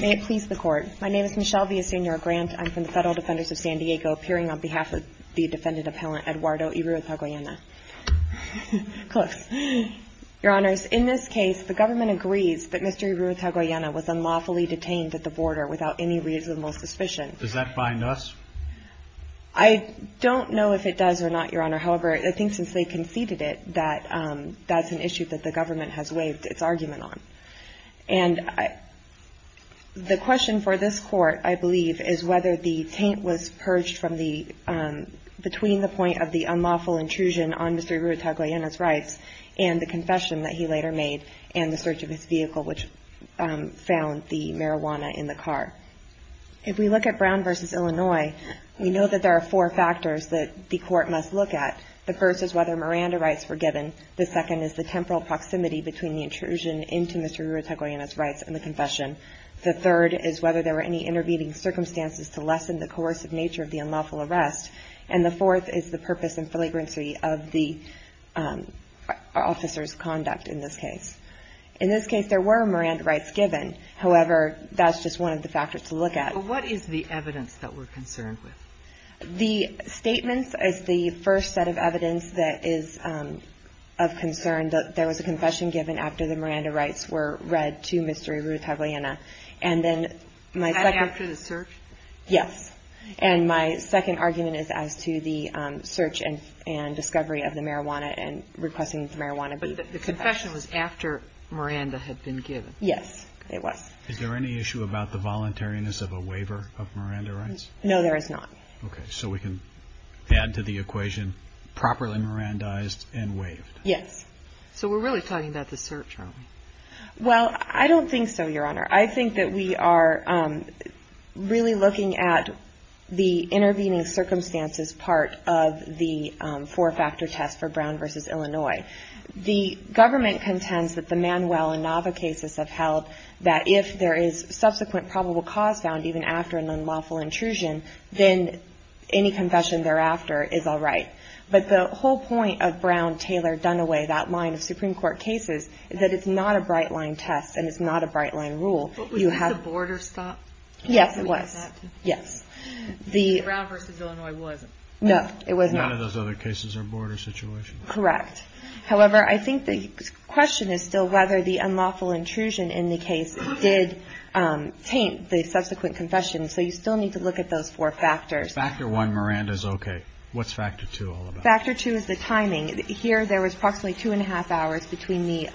May it please the court. My name is Michelle Villaseñor Grant. I'm from the Federal Defenders of San Diego, appearing on behalf of the defendant appellant Eduardo Iruretagoyena. Close. Your honors, in this case, the government agrees that Mr. Iruretagoyena was unlawfully detained at the border without any reasonable suspicion. Does that bind us? I don't know if it does or not, your honor. However, I think since they conceded it, that that's an issue that the government has waived its argument on. And the question for this court, I believe, is whether the taint was purged between the point of the unlawful intrusion on Mr. Iruretagoyena's rights and the confession that he later made and the search of his vehicle, which found the marijuana in the car. If we look at Brown v. Illinois, we know that there are four factors that the court must look at. The first is whether Miranda rights were given. The second is the temporal proximity between the intrusion into Mr. Iruretagoyena's rights and the confession. The third is whether there were any intervening circumstances to lessen the coercive nature of the unlawful arrest. And the fourth is the purpose and flagrancy of the officer's conduct in this case. In this case, there were Miranda rights given. However, that's just one of the factors to look at. What is the evidence that we're concerned with? The statements is the first set of evidence that is of concern, that there was a confession given after the Miranda rights were read to Mr. Iruretagoyena. And then my second... Was that after the search? Yes. And my second argument is as to the search and discovery of the marijuana and requesting the marijuana be confessed. But the confession was after Miranda had been given. Yes, it was. Is there any issue about the voluntariness of a waiver of Miranda rights? No, there is not. Okay, so we can add to the equation, properly Mirandized and waived. Yes. So we're really talking about the search, aren't we? Well, I don't think so, Your Honor. I think that we are really looking at the intervening circumstances part of the four-factor test for Brown v. Illinois. The government contends that the Manuel and Nava cases have held that if there is subsequent probable cause found even after an unlawful intrusion, then any confession thereafter is all right. But the whole point of Brown v. Illinois, that line of Supreme Court cases, is that it's not a bright-line test and it's not a bright-line rule. But was the border stopped? Yes, it was. Brown v. Illinois was. No, it was not. None of those other cases are border situations. Correct. However, I think the question is still whether the unlawful intrusion in the case did taint the subsequent confession. So you still need to look at those four factors. Factor one, Miranda's okay. What's factor two all about? Factor two is the timing. Here, there was approximately two and a half hours between the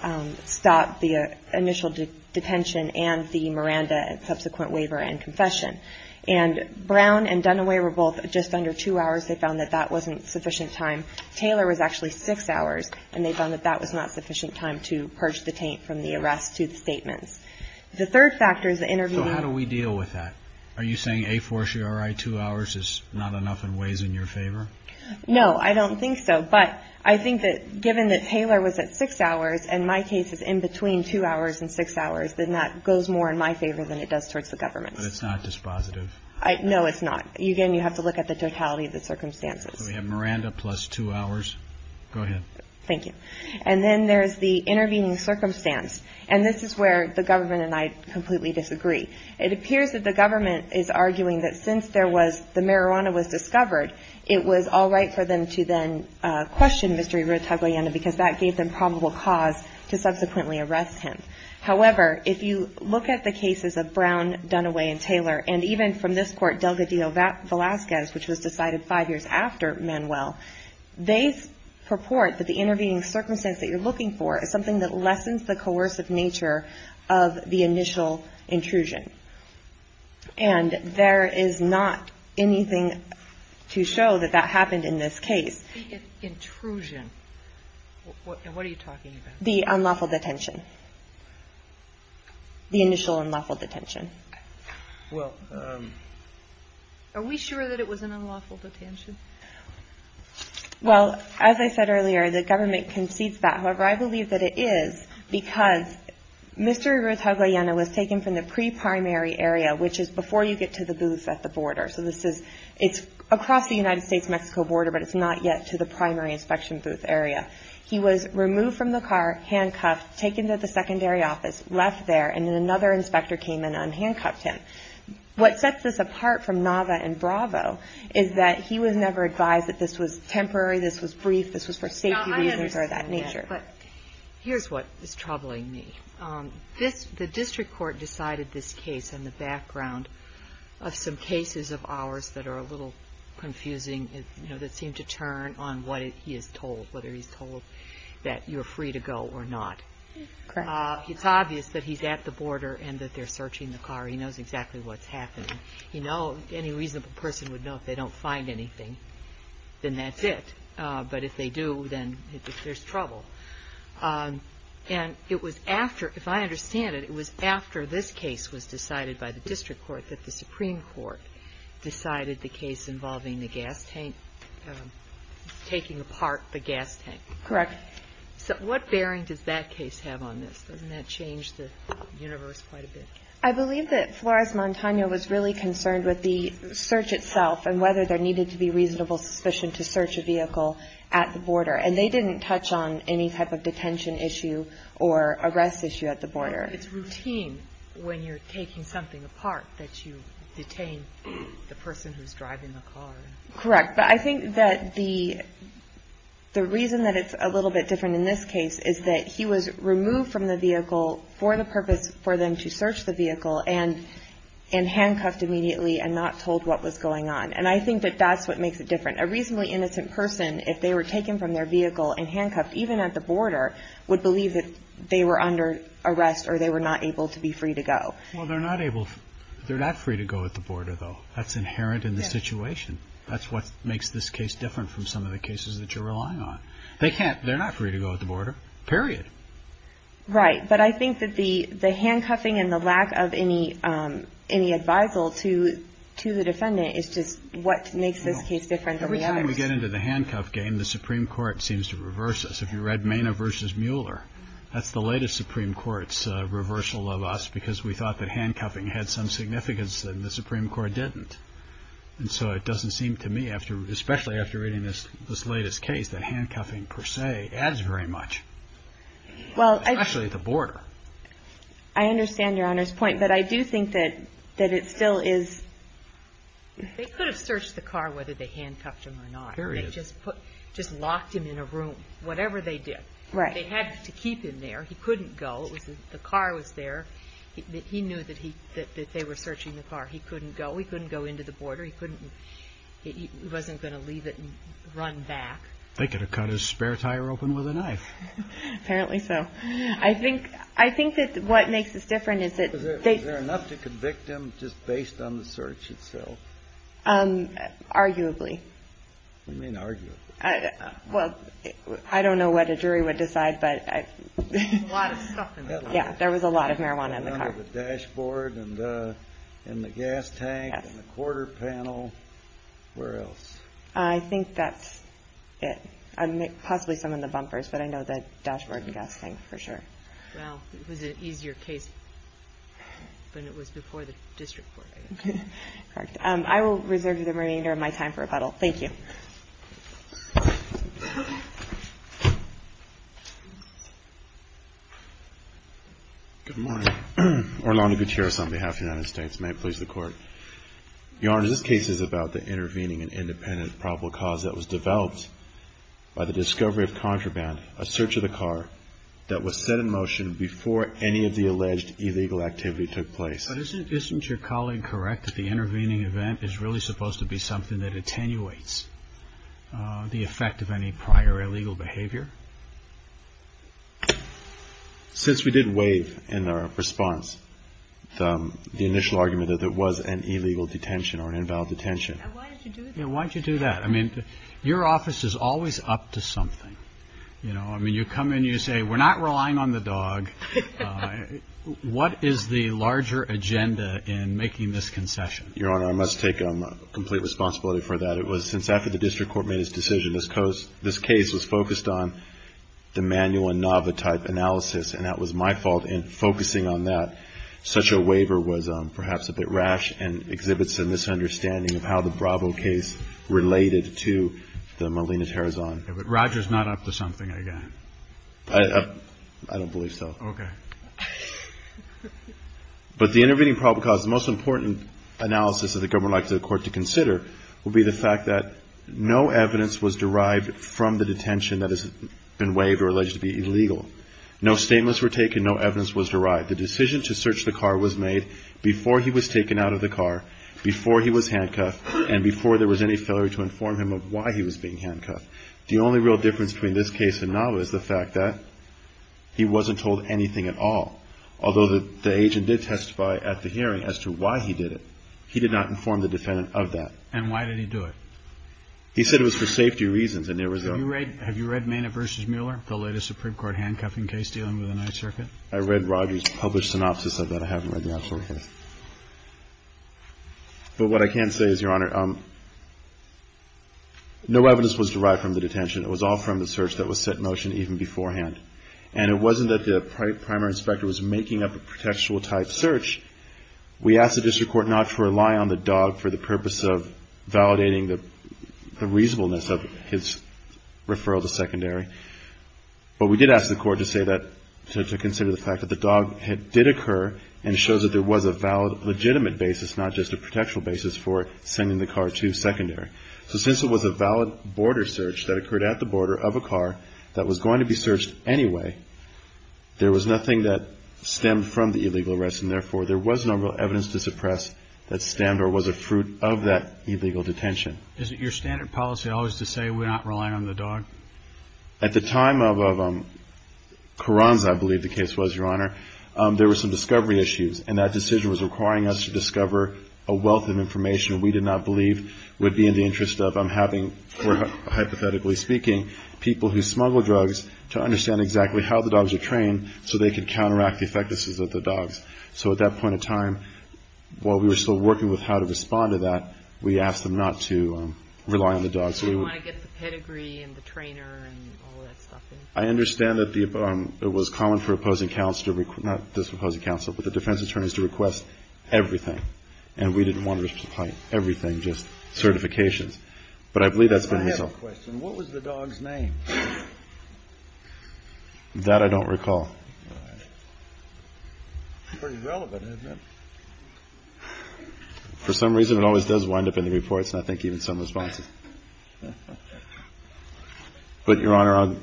stop, the initial detention, and the Miranda and subsequent waiver and confession. And Brown and Dunaway were both just under two hours. They found that that wasn't sufficient time. Taylor was actually six hours, and they found that that was not sufficient time to purge the taint from the arrest to the statements. The third factor is the intervening. So how do we deal with that? Are you saying a fortiori two hours is not enough and weighs in your favor? No, I don't think so. But I think that given that Taylor was at six hours, and my case is in between two hours and six hours, then that goes more in my favor than it does towards the government. But it's not dispositive. No, it's not. Again, you have to look at the totality of the circumstances. We have Miranda plus two hours. Go ahead. Thank you. And then there's the intervening circumstance. And this is where the government and I completely disagree. It appears that the government is arguing that since there was the marijuana was discovered, it was all right for them to then question Mr. Irutagoyen because that gave them probable cause to subsequently arrest him. However, if you look at the cases of Brown, Dunaway, and Taylor, and even from this court, Delgadillo-Velasquez, which was decided five years after Manuel, they purport that the intervening circumstance that you're looking for is something that lessens the coercive nature of the initial intrusion. And there is not anything to show that that happened in this case. Intrusion. And what are you talking about? The unlawful detention. The initial unlawful detention. Well, are we sure that it was an unlawful detention? Well, as I said earlier, the government concedes that. However, I believe that it is because Mr. Irutagoyen was taken from the pre-primary area, which is before you get to the booth at the border. So this is across the United States-Mexico border, but it's not yet to the primary inspection booth area. He was removed from the car, handcuffed, taken to the secondary office, left there, and then another inspector came in and handcuffed him. What sets this apart from Nava and Bravo is that he was never advised that this was temporary, this was brief, this was for safety reasons or that nature. Here's what is troubling me. The district court decided this case in the background of some cases of ours that are a little confusing, that seem to turn on what he is told, whether he's told that you're free to go or not. Correct. It's obvious that he's at the border and that they're searching the car. He knows exactly what's happening. You know, any reasonable person would know if they don't find anything, then that's it. But if they do, then there's trouble. And it was after, if I understand it, it was after this case was decided by the district court that the Supreme Court decided the case involving the gas tank, taking apart the gas tank. Correct. So what bearing does that case have on this? Doesn't that change the universe quite a bit? I believe that Flores-Montano was really concerned with the search itself and whether there needed to be reasonable suspicion to search a vehicle at the border. And they didn't touch on any type of detention issue or arrest issue at the border. But it's routine when you're taking something apart that you detain the person who's driving the car. Correct. But I think that the reason that it's a little bit different in this case is that he was removed from the vehicle for the purpose for them to search the vehicle and handcuffed immediately and not told what was going on. And I think that that's what makes it different. A reasonably innocent person, if they were taken from their vehicle and handcuffed, even at the border, would believe that they were under arrest or they were not able to be free to go. Well, they're not free to go at the border, though. That's inherent in the situation. That's what makes this case different from some of the cases that you're relying on. They're not free to go at the border. Period. Right. But I think that the handcuffing and the lack of any advisal to the defendant is just what makes this case different from the others. Every time we get into the handcuff game, the Supreme Court seems to reverse us. If you read Maina v. Mueller, that's the latest Supreme Court's reversal of us because we thought that handcuffing had some significance and the Supreme Court didn't. And so it doesn't seem to me, especially after reading this latest case, that handcuffing per se adds very much, especially at the border. I understand Your Honor's point, but I do think that it still is. They could have searched the car whether they handcuffed him or not. Period. They just locked him in a room, whatever they did. Right. They had to keep him there. He couldn't go. The car was there. He knew that they were searching the car. He couldn't go. He couldn't go into the border. He wasn't going to leave it and run back. They could have cut his spare tire open with a knife. Apparently so. I think that what makes this different is that they Was there enough to convict him just based on the search itself? Arguably. What do you mean arguably? Well, I don't know what a jury would decide, but There was a lot of stuff in the car. Yeah, there was a lot of marijuana in the car. The dashboard and the gas tank and the quarter panel. Where else? I think that's it. Possibly some in the bumpers, but I know the dashboard and gas tank for sure. Well, it was an easier case when it was before the district court, I guess. Correct. I will reserve the remainder of my time for rebuttal. Thank you. Good morning. Orlando Gutierrez on behalf of the United States. May it please the Court. Your Honor, this case is about the intervening and independent probable cause That was developed by the discovery of contraband, a search of the car That was set in motion before any of the alleged illegal activity took place. But isn't your colleague correct that the intervening event is really supposed to be something that attenuates? The effect of any prior illegal behavior? Since we did waive in our response the initial argument that it was an illegal detention or an invalid detention. And why did you do that? Yeah, why did you do that? I mean, your office is always up to something. You know, I mean, you come in, you say, we're not relying on the dog. What is the larger agenda in making this concession? Your Honor, I must take complete responsibility for that. It was since after the district court made its decision. This case was focused on the manual and novotype analysis. And that was my fault in focusing on that. Such a waiver was perhaps a bit rash and exhibits a misunderstanding of how the Bravo case related to the Molina-Terrazon. But Roger's not up to something again. I don't believe so. Okay. But the intervening probable cause, the most important analysis that the government would like the court to consider, would be the fact that no evidence was derived from the detention that has been waived or alleged to be illegal. No statements were taken. No evidence was derived. The decision to search the car was made before he was taken out of the car, before he was handcuffed, and before there was any failure to inform him of why he was being handcuffed. The only real difference between this case and Nava is the fact that he wasn't told anything at all. Although the agent did testify at the hearing as to why he did it, he did not inform the defendant of that. And why did he do it? He said it was for safety reasons. Have you read Maina v. Mueller, the latest Supreme Court handcuffing case dealing with the Ninth Circuit? I read Roger's published synopsis of that. I haven't read the actual case. But what I can say is, Your Honor, no evidence was derived from the detention. It was all from the search that was set in motion even beforehand. And it wasn't that the primary inspector was making up a contextual type search. We asked the district court not to rely on the dog for the purpose of validating the reasonableness of his referral to secondary. But we did ask the court to say that, to consider the fact that the dog did occur and shows that there was a valid, legitimate basis, not just a contextual basis, for sending the car to secondary. So since it was a valid border search that occurred at the border of a car that was going to be searched anyway, there was nothing that stemmed from the illegal arrest, and therefore there was no real evidence to suppress that stemmed or was a fruit of that illegal detention. Isn't your standard policy always to say we're not relying on the dog? At the time of Carranza, I believe the case was, Your Honor, there were some discovery issues, and that decision was requiring us to discover a wealth of information we did not believe would be in the interest of, hypothetically speaking, people who smuggle drugs to understand exactly how the dogs are trained so they could counteract the effectiveness of the dogs. So at that point in time, while we were still working with how to respond to that, we asked them not to rely on the dog. They didn't want to get the pedigree and the trainer and all that stuff in. I understand that it was common for opposing counsel to request, not just opposing counsel, but the defense attorneys to request everything, and we didn't want to request everything, just certifications. But I believe that's been resolved. I have a question. What was the dog's name? That I don't recall. It's pretty relevant, isn't it? For some reason, it always does wind up in the reports, and I think even some responses. But, Your Honor,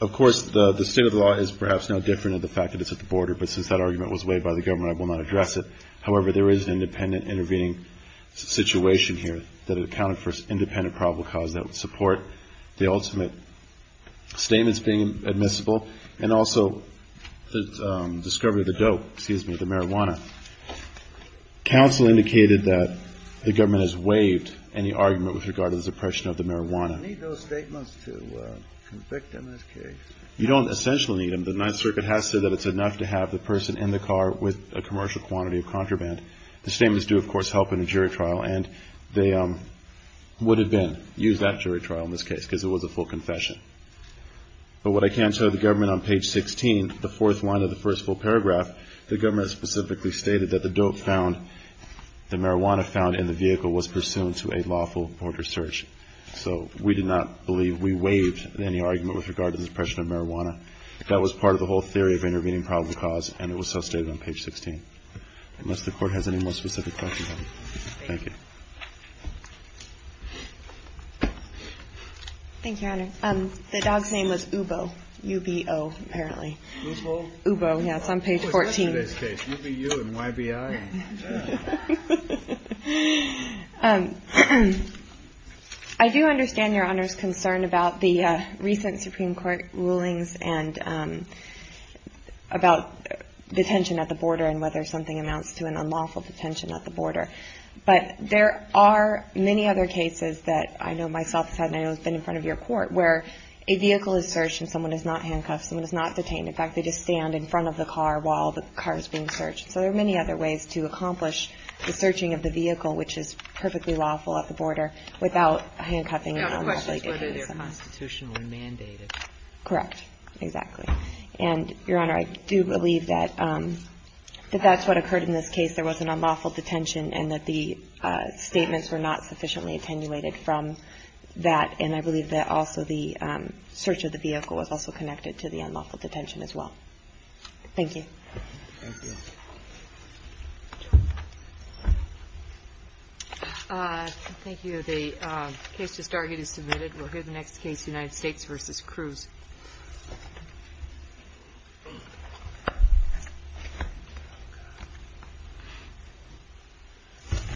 of course, the state of the law is perhaps no different than the fact that it's at the border, but since that argument was waived by the government, I will not address it. However, there is an independent intervening situation here that it accounted for, independent probable cause that would support the ultimate statements being admissible, and also the discovery of the dope, excuse me, the marijuana. Counsel indicated that the government has waived any argument with regard to the suppression of the marijuana. Do we need those statements to convict him in this case? You don't essentially need them. The Ninth Circuit has said that it's enough to have the person in the car with a commercial quantity of contraband. The statements do, of course, help in a jury trial, and they would have been used at jury trial in this case because it was a full confession. But what I can tell you, the government on page 16, the fourth line of the first full paragraph, the government specifically stated that the dope found, the marijuana found in the vehicle, was pursuant to a lawful border search. So we did not believe we waived any argument with regard to the suppression of marijuana. That was part of the whole theory of intervening probable cause, and it was so stated on page 16. Unless the Court has any more specific questions on it. Thank you. Thank you, Your Honor. The dog's name was Ubo, U-B-O, apparently. Ubo? Ubo, yeah. It's on page 14. U-B-U and Y-B-I. I do understand Your Honor's concern about the recent Supreme Court rulings and about detention at the border and whether something amounts to an unlawful detention at the border. But there are many other cases that I know myself have had and I know have been in front of your court where a vehicle is searched and someone is not handcuffed, someone is not detained. In fact, they just stand in front of the car while the car is being searched. So there are many other ways to accomplish the searching of the vehicle, which is perfectly lawful at the border, without handcuffing and unlawfully detaining someone. The question is whether they're constitutionally mandated. Correct. Exactly. And, Your Honor, I do believe that that's what occurred in this case. There was an unlawful detention and that the statements were not sufficiently attenuated from that, and I believe that also the search of the vehicle was also connected to the unlawful detention as well. Thank you. Thank you. Thank you. The case to start is submitted. We'll hear the next case, United States v. Cruz.